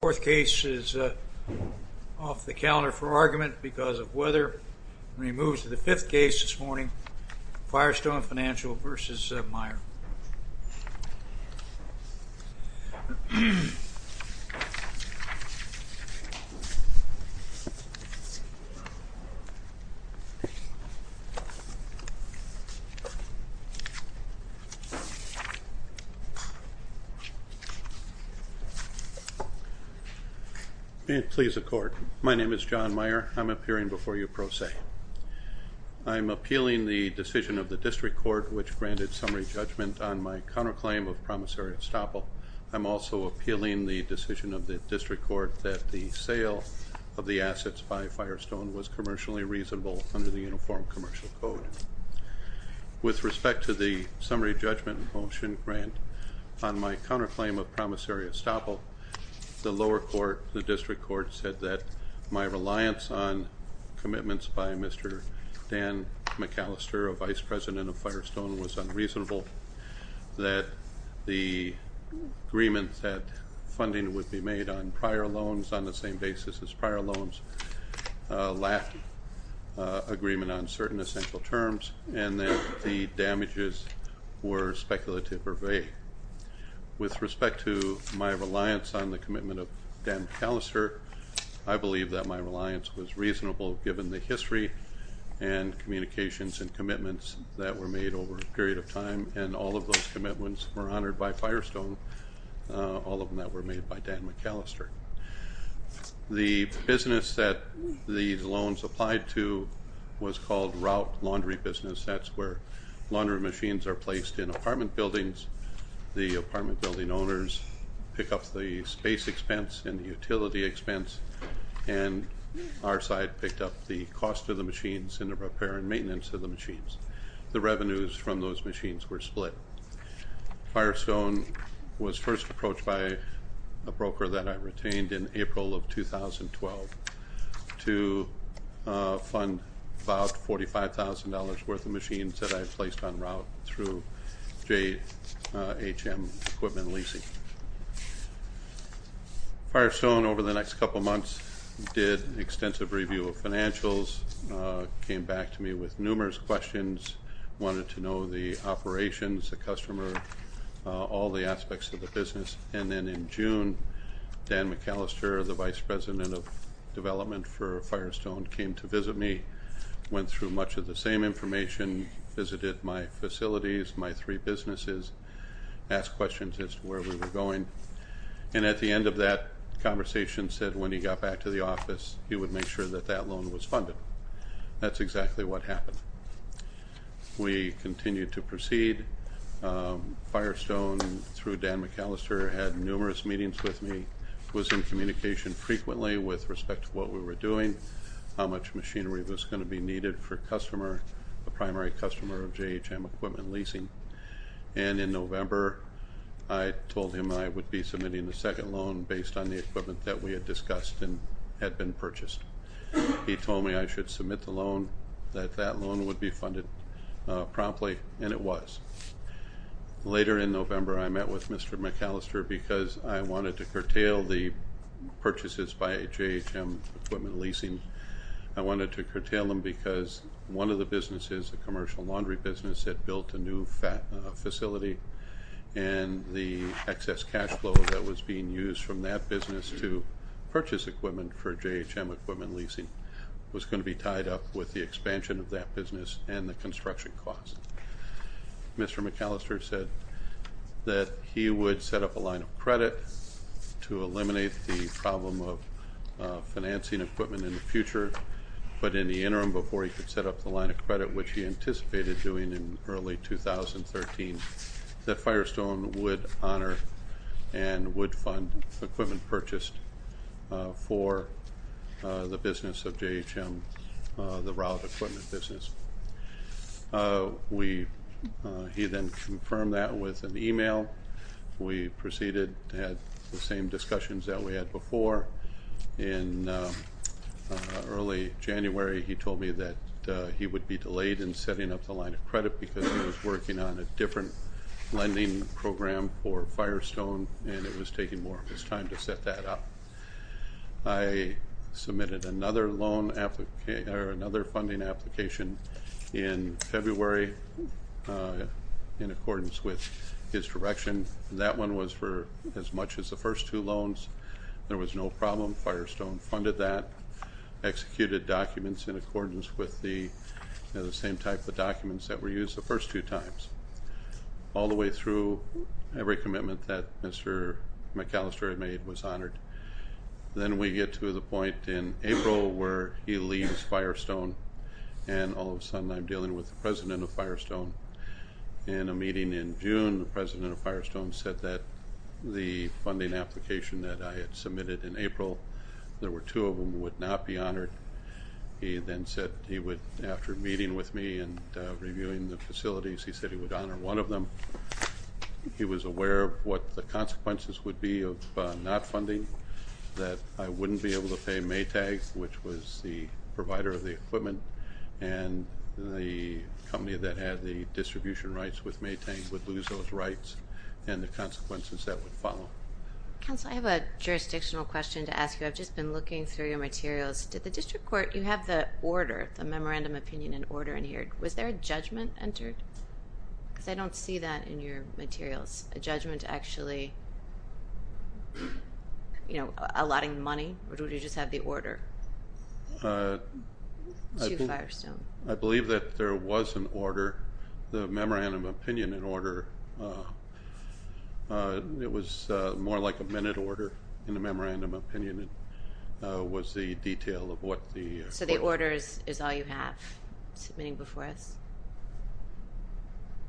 The fourth case is off the calendar for argument because of weather. When we move to the fifth case this morning, Firestone Financial v. Meyer. May it please the Court. My name is John Meyer. I'm appearing before you pro se. I'm appealing the decision of the District Court which granted summary judgment on my counterclaim of promissory estoppel. I'm also appealing the decision of the District Court that the sale of the assets by Firestone was commercially reasonable under the Uniform Commercial Code. With respect to the summary judgment motion grant on my counterclaim of promissory estoppel, the lower court, the District Court, said that my reliance on commitments by Mr. Dan McAllister, a vice president of Firestone, was unreasonable. That the agreement that funding would be made on prior loans on the same basis as prior loans lacked agreement on certain essential terms and that the damages were speculative or vague. With respect to my reliance on the commitment of Dan McAllister, I believe that my reliance was reasonable given the history and communications and commitments that were made over a period of time and all of those commitments were honored by Firestone, all of them that were made by Dan McAllister. The business that the loans applied to was called Route Laundry Business. That's where laundry machines are placed in apartment buildings. The apartment building owners pick up the space expense and the utility expense and our side picked up the cost of the machines and the repair and maintenance of the machines. The revenues from those machines were split. Firestone was first approached by a broker that I retained in April of 2012 to fund about $45,000 worth of machines that I placed on route through JHM Equipment Leasing. Firestone, over the next couple of months, did an extensive review of financials, came back to me with numerous questions, wanted to know the operations, the customer, all the aspects of the business. And then in June, Dan McAllister, the vice president of development for Firestone, came to visit me, went through much of the same information, visited my facilities, my three businesses, asked questions as to where we were going. And at the end of that conversation said when he got back to the office, he would make sure that that loan was funded. That's exactly what happened. We continued to proceed. Firestone, through Dan McAllister, had numerous meetings with me, was in communication frequently with respect to what we were doing, how much machinery was going to be needed for a customer, a primary customer of JHM Equipment Leasing. And in November, I told him I would be submitting the second loan based on the equipment that we had discussed and had been purchased. He told me I should submit the loan, that that loan would be funded promptly, and it was. Later in November, I met with Mr. McAllister because I wanted to curtail the purchases by JHM Equipment Leasing. I wanted to curtail them because one of the businesses, the commercial laundry business, had built a new facility, and the excess cash flow that was being used from that business to purchase equipment for JHM Equipment Leasing was going to be tied up with the expansion of that business and the construction costs. Mr. McAllister said that he would set up a line of credit to eliminate the problem of financing equipment in the future, but in the interim, before he could set up the line of credit, which he anticipated doing in early 2013, that Firestone would honor and would fund equipment purchased for the business of JHM, the route equipment business. He then confirmed that with an email. We proceeded to have the same discussions that we had before. In early January, he told me that he would be delayed in setting up the line of credit because he was working on a different lending program for Firestone, and it was taking more of his time to set that up. I submitted another funding application in February in accordance with his direction. That one was for as much as the first two loans. There was no problem. Firestone funded that, executed documents in accordance with the same type of documents that were used the first two times, all the way through every commitment that Mr. McAllister had made was honored. Then we get to the point in April where he leaves Firestone, and all of a sudden I'm dealing with the president of Firestone. In a meeting in June, the president of Firestone said that the funding application that I had submitted in April, he then said he would, after meeting with me and reviewing the facilities, he said he would honor one of them. He was aware of what the consequences would be of not funding, that I wouldn't be able to pay Maytag, which was the provider of the equipment, and the company that had the distribution rights with Maytag would lose those rights and the consequences that would follow. Counsel, I have a jurisdictional question to ask you. I've just been looking through your materials. Did the district court, you have the order, the memorandum of opinion and order in here. Was there a judgment entered? Because I don't see that in your materials, a judgment actually allotting money, or did you just have the order to Firestone? I believe that there was an order, the memorandum of opinion and order. It was more like a minute order in the memorandum of opinion. It was the detail of what the court. So the order is all you have submitting before us?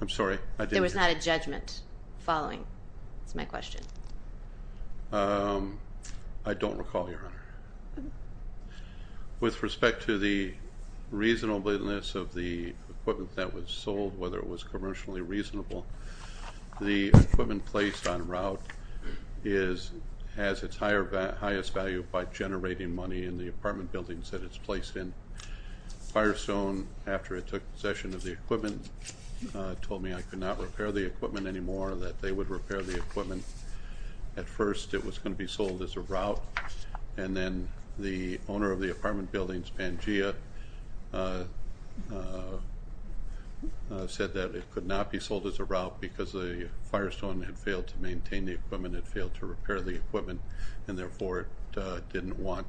I'm sorry, I didn't hear. There was not a judgment following, is my question. I don't recall, Your Honor. With respect to the reasonableness of the equipment that was sold, whether it was commercially reasonable, the equipment placed on route has its highest value by generating money in the apartment buildings that it's placed in. Firestone, after it took possession of the equipment, told me I could not repair the equipment anymore, that they would repair the equipment. At first it was going to be sold as a route, and then the owner of the apartment buildings, Pangea, said that it could not be sold as a route because Firestone had failed to maintain the equipment, had failed to repair the equipment, and therefore it didn't want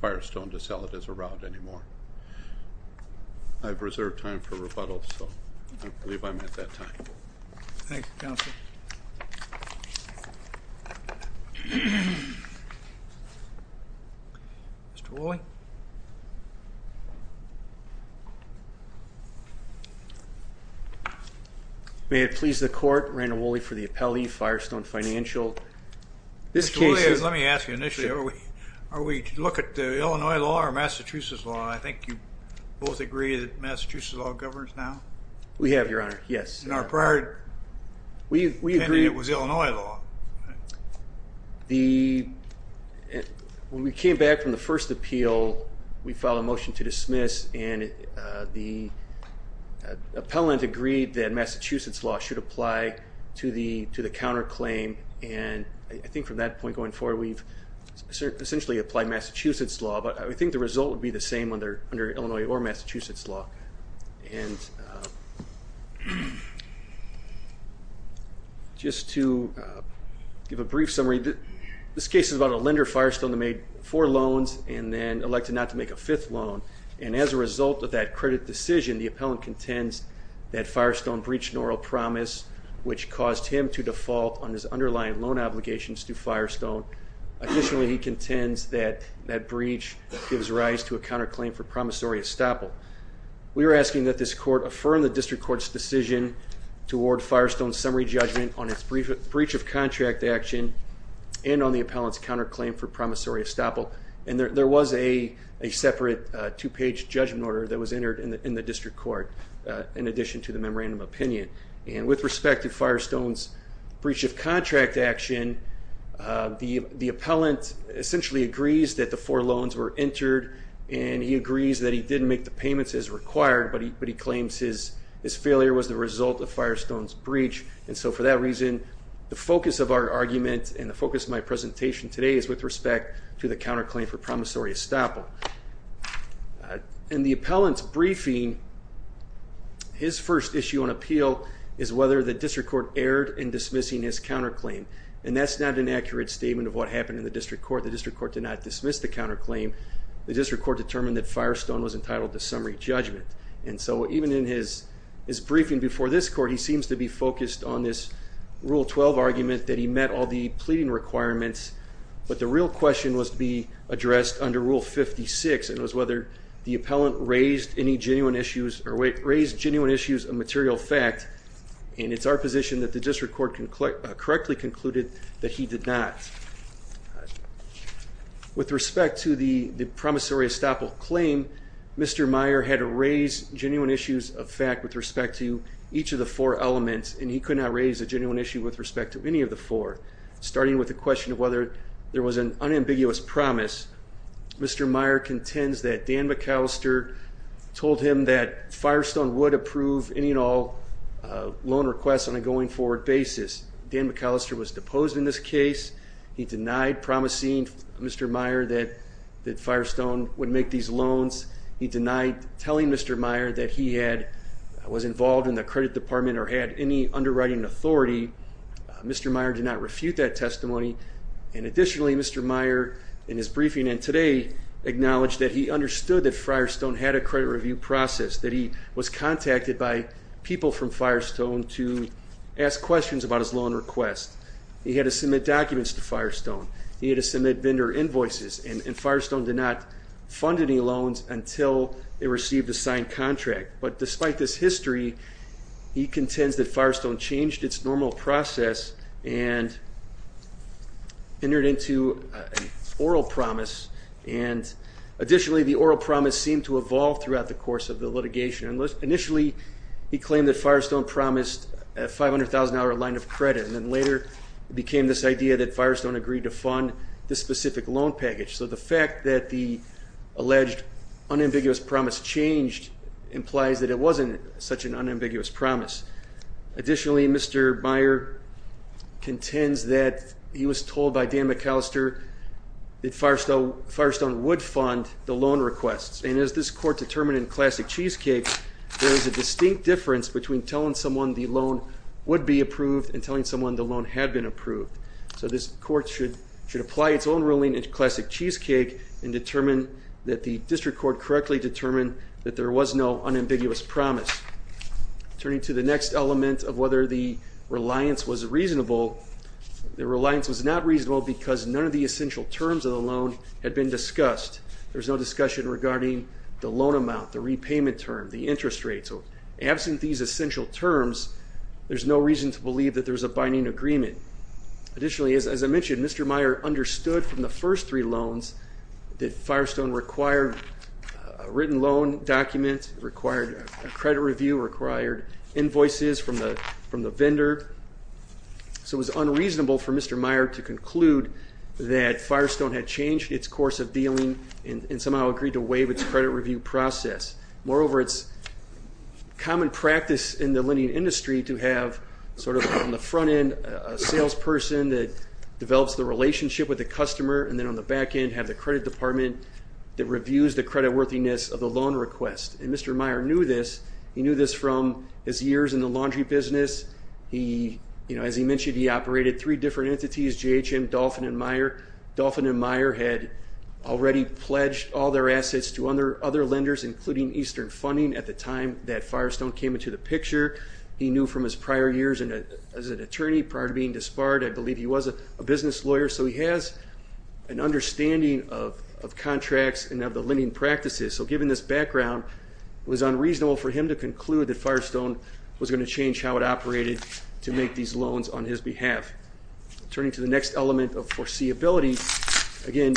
Firestone to sell it as a route anymore. I have reserved time for rebuttal, so I believe I'm at that time. Thank you, counsel. Mr. Woolley? May it please the court, Randall Woolley for the appellee, Firestone Financial. Mr. Woolley, let me ask you initially, are we to look at the Illinois law or Massachusetts law? I think you both agree that Massachusetts law governs now? We have, Your Honor, yes. In our prior opinion, it was Illinois law. When we came back from the first appeal, we filed a motion to dismiss, and the appellant agreed that Massachusetts law should apply to the counterclaim, and I think from that point going forward we've essentially applied Massachusetts law, but I think the result would be the same under Illinois or Massachusetts law. Just to give a brief summary, this case is about a lender, Firestone, that made four loans and then elected not to make a fifth loan, and as a result of that credit decision, the appellant contends that Firestone breached an oral promise, which caused him to default on his underlying loan obligations to Firestone. Additionally, he contends that that breach gives rise to a counterclaim for promissory estoppel. We were asking that this court affirm the district court's decision to award Firestone's summary judgment on its breach of contract action and on the appellant's counterclaim for promissory estoppel, and there was a separate two-page judgment order that was entered in the district court in addition to the memorandum of opinion, and with respect to Firestone's breach of contract action, the appellant essentially agrees that the four loans were entered, and he agrees that he didn't make the payments as required, but he claims his failure was the result of Firestone's breach, and so for that reason the focus of our argument and the focus of my presentation today is with respect to the counterclaim for promissory estoppel. In the appellant's briefing, his first issue on appeal is whether the district court erred in dismissing his counterclaim, and that's not an accurate statement of what happened in the district court. The district court did not dismiss the counterclaim. The district court determined that Firestone was entitled to summary judgment, and so even in his briefing before this court, he seems to be focused on this Rule 12 argument that he met all the pleading requirements, but the real question was to be addressed under Rule 56, and it was whether the appellant raised any genuine issues or raised genuine issues of material fact, and it's our position that the district court correctly concluded that he did not. With respect to the promissory estoppel claim, Mr. Meyer had raised genuine issues of fact with respect to each of the four elements, and he could not raise a genuine issue with respect to any of the four. Starting with the question of whether there was an unambiguous promise, Mr. Meyer contends that Dan McAllister told him that Firestone would approve any and all loan requests on a going-forward basis. Dan McAllister was deposed in this case. He denied promising Mr. Meyer that Firestone would make these loans. He denied telling Mr. Meyer that he was involved in the credit department or had any underwriting authority. Mr. Meyer did not refute that testimony, and additionally Mr. Meyer, in his briefing and today, acknowledged that he understood that Firestone had a credit review process, that he was contacted by people from Firestone to ask questions about his loan request. He had to submit documents to Firestone. He had to submit vendor invoices, and Firestone did not fund any loans until it received a signed contract. But despite this history, he contends that Firestone changed its normal process and entered into an oral promise, and additionally the oral promise seemed to evolve throughout the course of the litigation. Initially he claimed that Firestone promised a $500,000 line of credit, and then later it became this idea that Firestone agreed to fund this specific loan package. So the fact that the alleged unambiguous promise changed implies that it wasn't such an unambiguous promise. Additionally, Mr. Meyer contends that he was told by Dan McAllister that Firestone would fund the loan requests, and as this court determined in Classic Cheesecake, there is a distinct difference between telling someone the loan would be approved and telling someone the loan had been approved. So this court should apply its own ruling in Classic Cheesecake and determine that the district court correctly determined that there was no unambiguous promise. Turning to the next element of whether the reliance was reasonable, the reliance was not reasonable because none of the essential terms of the loan had been discussed. There's no discussion regarding the loan amount, the repayment term, the interest rate. So absent these essential terms, there's no reason to believe that there's a binding agreement. Additionally, as I mentioned, Mr. Meyer understood from the first three loans that Firestone required a written loan document, required a credit review, required invoices from the vendor. So it was unreasonable for Mr. Meyer to conclude that Firestone had changed its course of dealing and somehow agreed to waive its credit review process. Moreover, it's common practice in the lending industry to have sort of on the front end a salesperson that develops the relationship with the customer and then on the back end have the credit department that reviews the credit worthiness of the loan request. And Mr. Meyer knew this. He knew this from his years in the laundry business. As he mentioned, he operated three different entities, J.H.M., Dolphin, and Meyer. Dolphin and Meyer had already pledged all their assets to other lenders, including Eastern Funding, at the time that Firestone came into the picture. He knew from his prior years as an attorney prior to being disbarred. I believe he was a business lawyer. So he has an understanding of contracts and of the lending practices. So given this background, it was unreasonable for him to conclude that Firestone was going to change how it operated to make these loans on his behalf. Turning to the next element of foreseeability, again,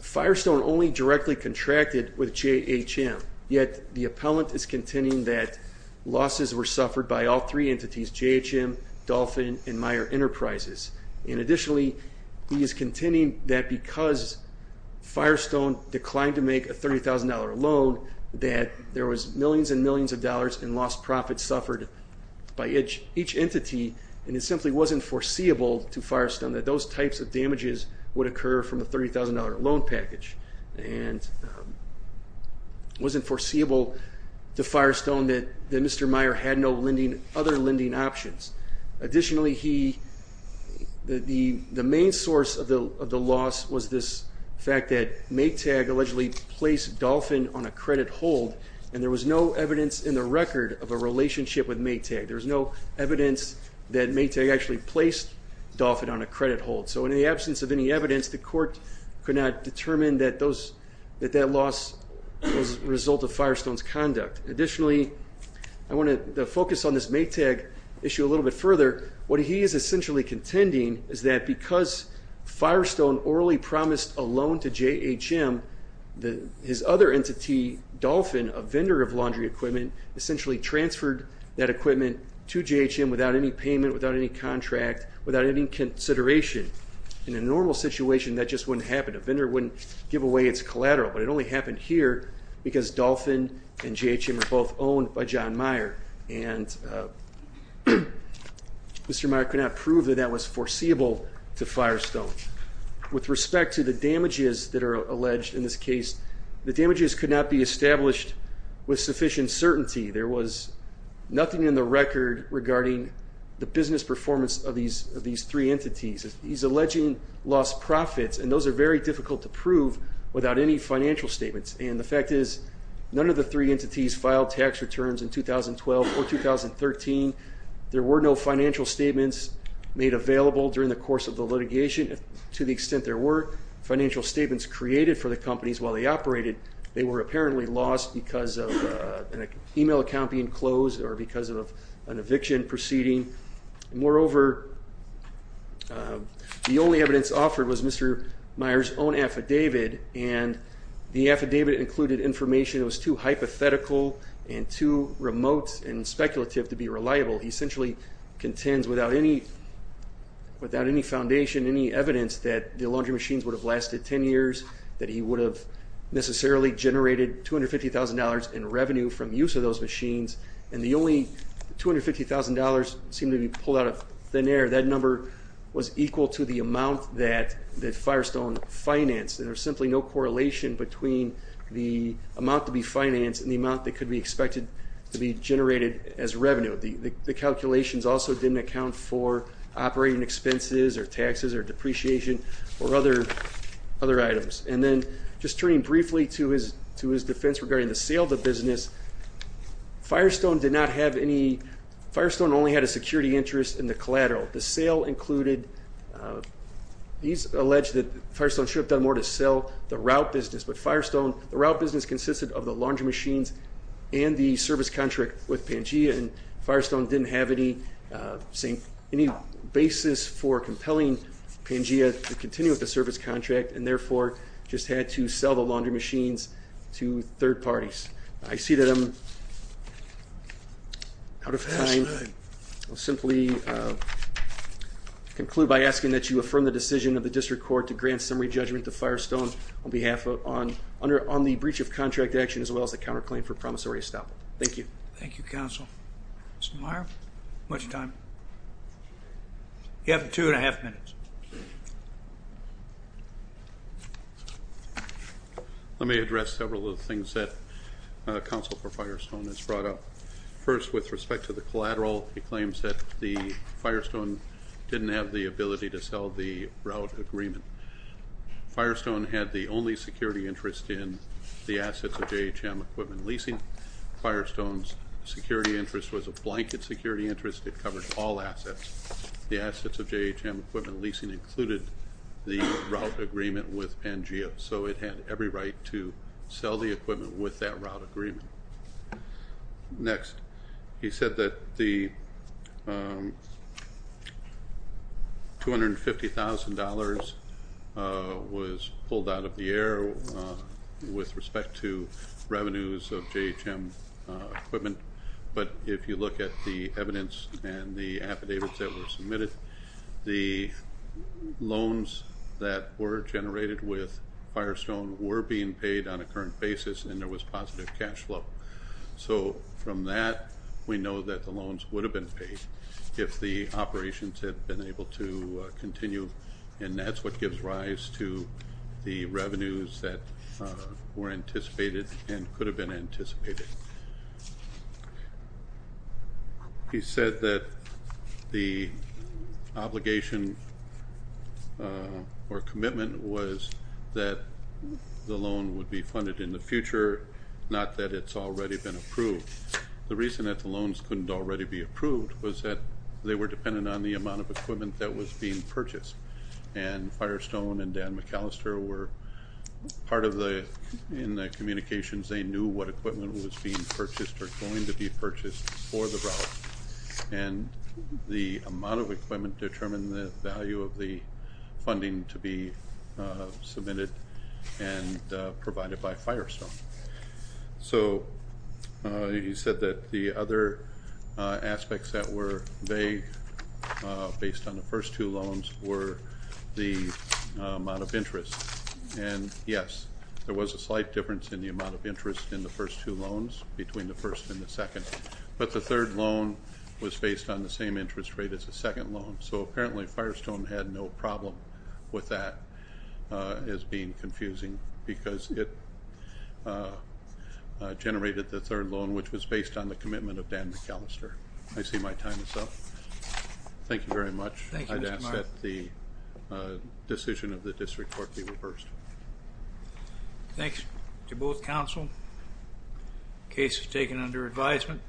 Firestone only directly contracted with J.H.M., yet the appellant is contending that losses were suffered by all three entities, J.H.M., Dolphin, and Meyer Enterprises. And additionally, he is contending that because Firestone declined to make a $30,000 loan, that there was millions and millions of dollars in lost profits suffered by each entity, and it simply wasn't foreseeable to Firestone that those types of damages would occur from a $30,000 loan package. And it wasn't foreseeable to Firestone that Mr. Meyer had no other lending options. Additionally, the main source of the loss was this fact that Maytag allegedly placed Dolphin on a credit hold, and there was no evidence in the record of a relationship with Maytag. There was no evidence that Maytag actually placed Dolphin on a credit hold. So in the absence of any evidence, the court could not determine that that loss was a result of Firestone's conduct. Additionally, I want to focus on this Maytag issue a little bit further. What he is essentially contending is that because Firestone orally promised a loan to J.H.M., his other entity, Dolphin, a vendor of laundry equipment, essentially transferred that equipment to J.H.M. without any payment, without any contract, without any consideration. In a normal situation, that just wouldn't happen. A vendor wouldn't give away its collateral. But it only happened here because Dolphin and J.H.M. are both owned by John Meyer, and Mr. Meyer could not prove that that was foreseeable to Firestone. With respect to the damages that are alleged in this case, the damages could not be established with sufficient certainty. There was nothing in the record regarding the business performance of these three entities. He's alleging lost profits, and those are very difficult to prove without any financial statements. And the fact is none of the three entities filed tax returns in 2012 or 2013. There were no financial statements made available during the course of the litigation. To the extent there were financial statements created for the companies while they operated, they were apparently lost because of an e-mail account being closed or because of an eviction proceeding. Moreover, the only evidence offered was Mr. Meyer's own affidavit, and the affidavit included information that was too hypothetical and too remote and speculative to be reliable. He essentially contends without any foundation, any evidence, that the laundry machines would have lasted 10 years, that he would have necessarily generated $250,000 in revenue from use of those machines, and the only $250,000 seemed to be pulled out of thin air. That number was equal to the amount that Firestone financed, and there's simply no correlation between the amount to be financed and the amount that could be expected to be generated as revenue. The calculations also didn't account for operating expenses or taxes or depreciation or other items. And then just turning briefly to his defense regarding the sale of the business, Firestone did not have any – Firestone only had a security interest in the collateral. The sale included – he's alleged that Firestone should have done more to sell the route business, but Firestone – the route business consisted of the laundry machines and the service contract with Pangea, and Firestone didn't have any basis for compelling Pangea to continue with the service contract and therefore just had to sell the laundry machines to third parties. I see that I'm out of time. I'll simply conclude by asking that you affirm the decision of the district court to grant summary judgment to Firestone on behalf of – on the breach of contract action as well as the counterclaim for promissory estoppel. Thank you. Thank you, Counsel. Mr. Meyer, how much time? You have two and a half minutes. Let me address several of the things that Counsel for Firestone has brought up. First, with respect to the collateral, he claims that Firestone didn't have the ability to sell the route agreement. Firestone had the only security interest in the assets of JHM Equipment Leasing. Firestone's security interest was a blanket security interest. It covered all assets. The assets of JHM Equipment Leasing included the route agreement with Pangea, so it had every right to sell the equipment with that route agreement. Next, he said that the $250,000 was pulled out of the air with respect to revenues of JHM Equipment, but if you look at the evidence and the affidavits that were submitted, the loans that were generated with Firestone were being paid on a current basis, and there was positive cash flow. So from that, we know that the loans would have been paid if the operations had been able to continue, and that's what gives rise to the revenues that were anticipated and could have been anticipated. He said that the obligation or commitment was that the loan would be funded in the future, not that it's already been approved. The reason that the loans couldn't already be approved was that they were dependent on the amount of equipment that was being purchased, and Firestone and Dan McAllister were part of the communications. They knew what equipment was being purchased or going to be purchased for the route, and the amount of equipment determined the value of the funding to be submitted and provided by Firestone. So he said that the other aspects that were vague based on the first two loans were the amount of interest, and yes, there was a slight difference in the amount of interest in the first two loans between the first and the second, but the third loan was based on the same interest rate as the second loan, so apparently Firestone had no problem with that as being confusing because it generated the third loan, which was based on the commitment of Dan McAllister. I see my time is up. Thank you very much. Thank you, Mr. Marks. I'd ask that the decision of the district court be reversed. Thanks to both counsel. Case is taken under advisement.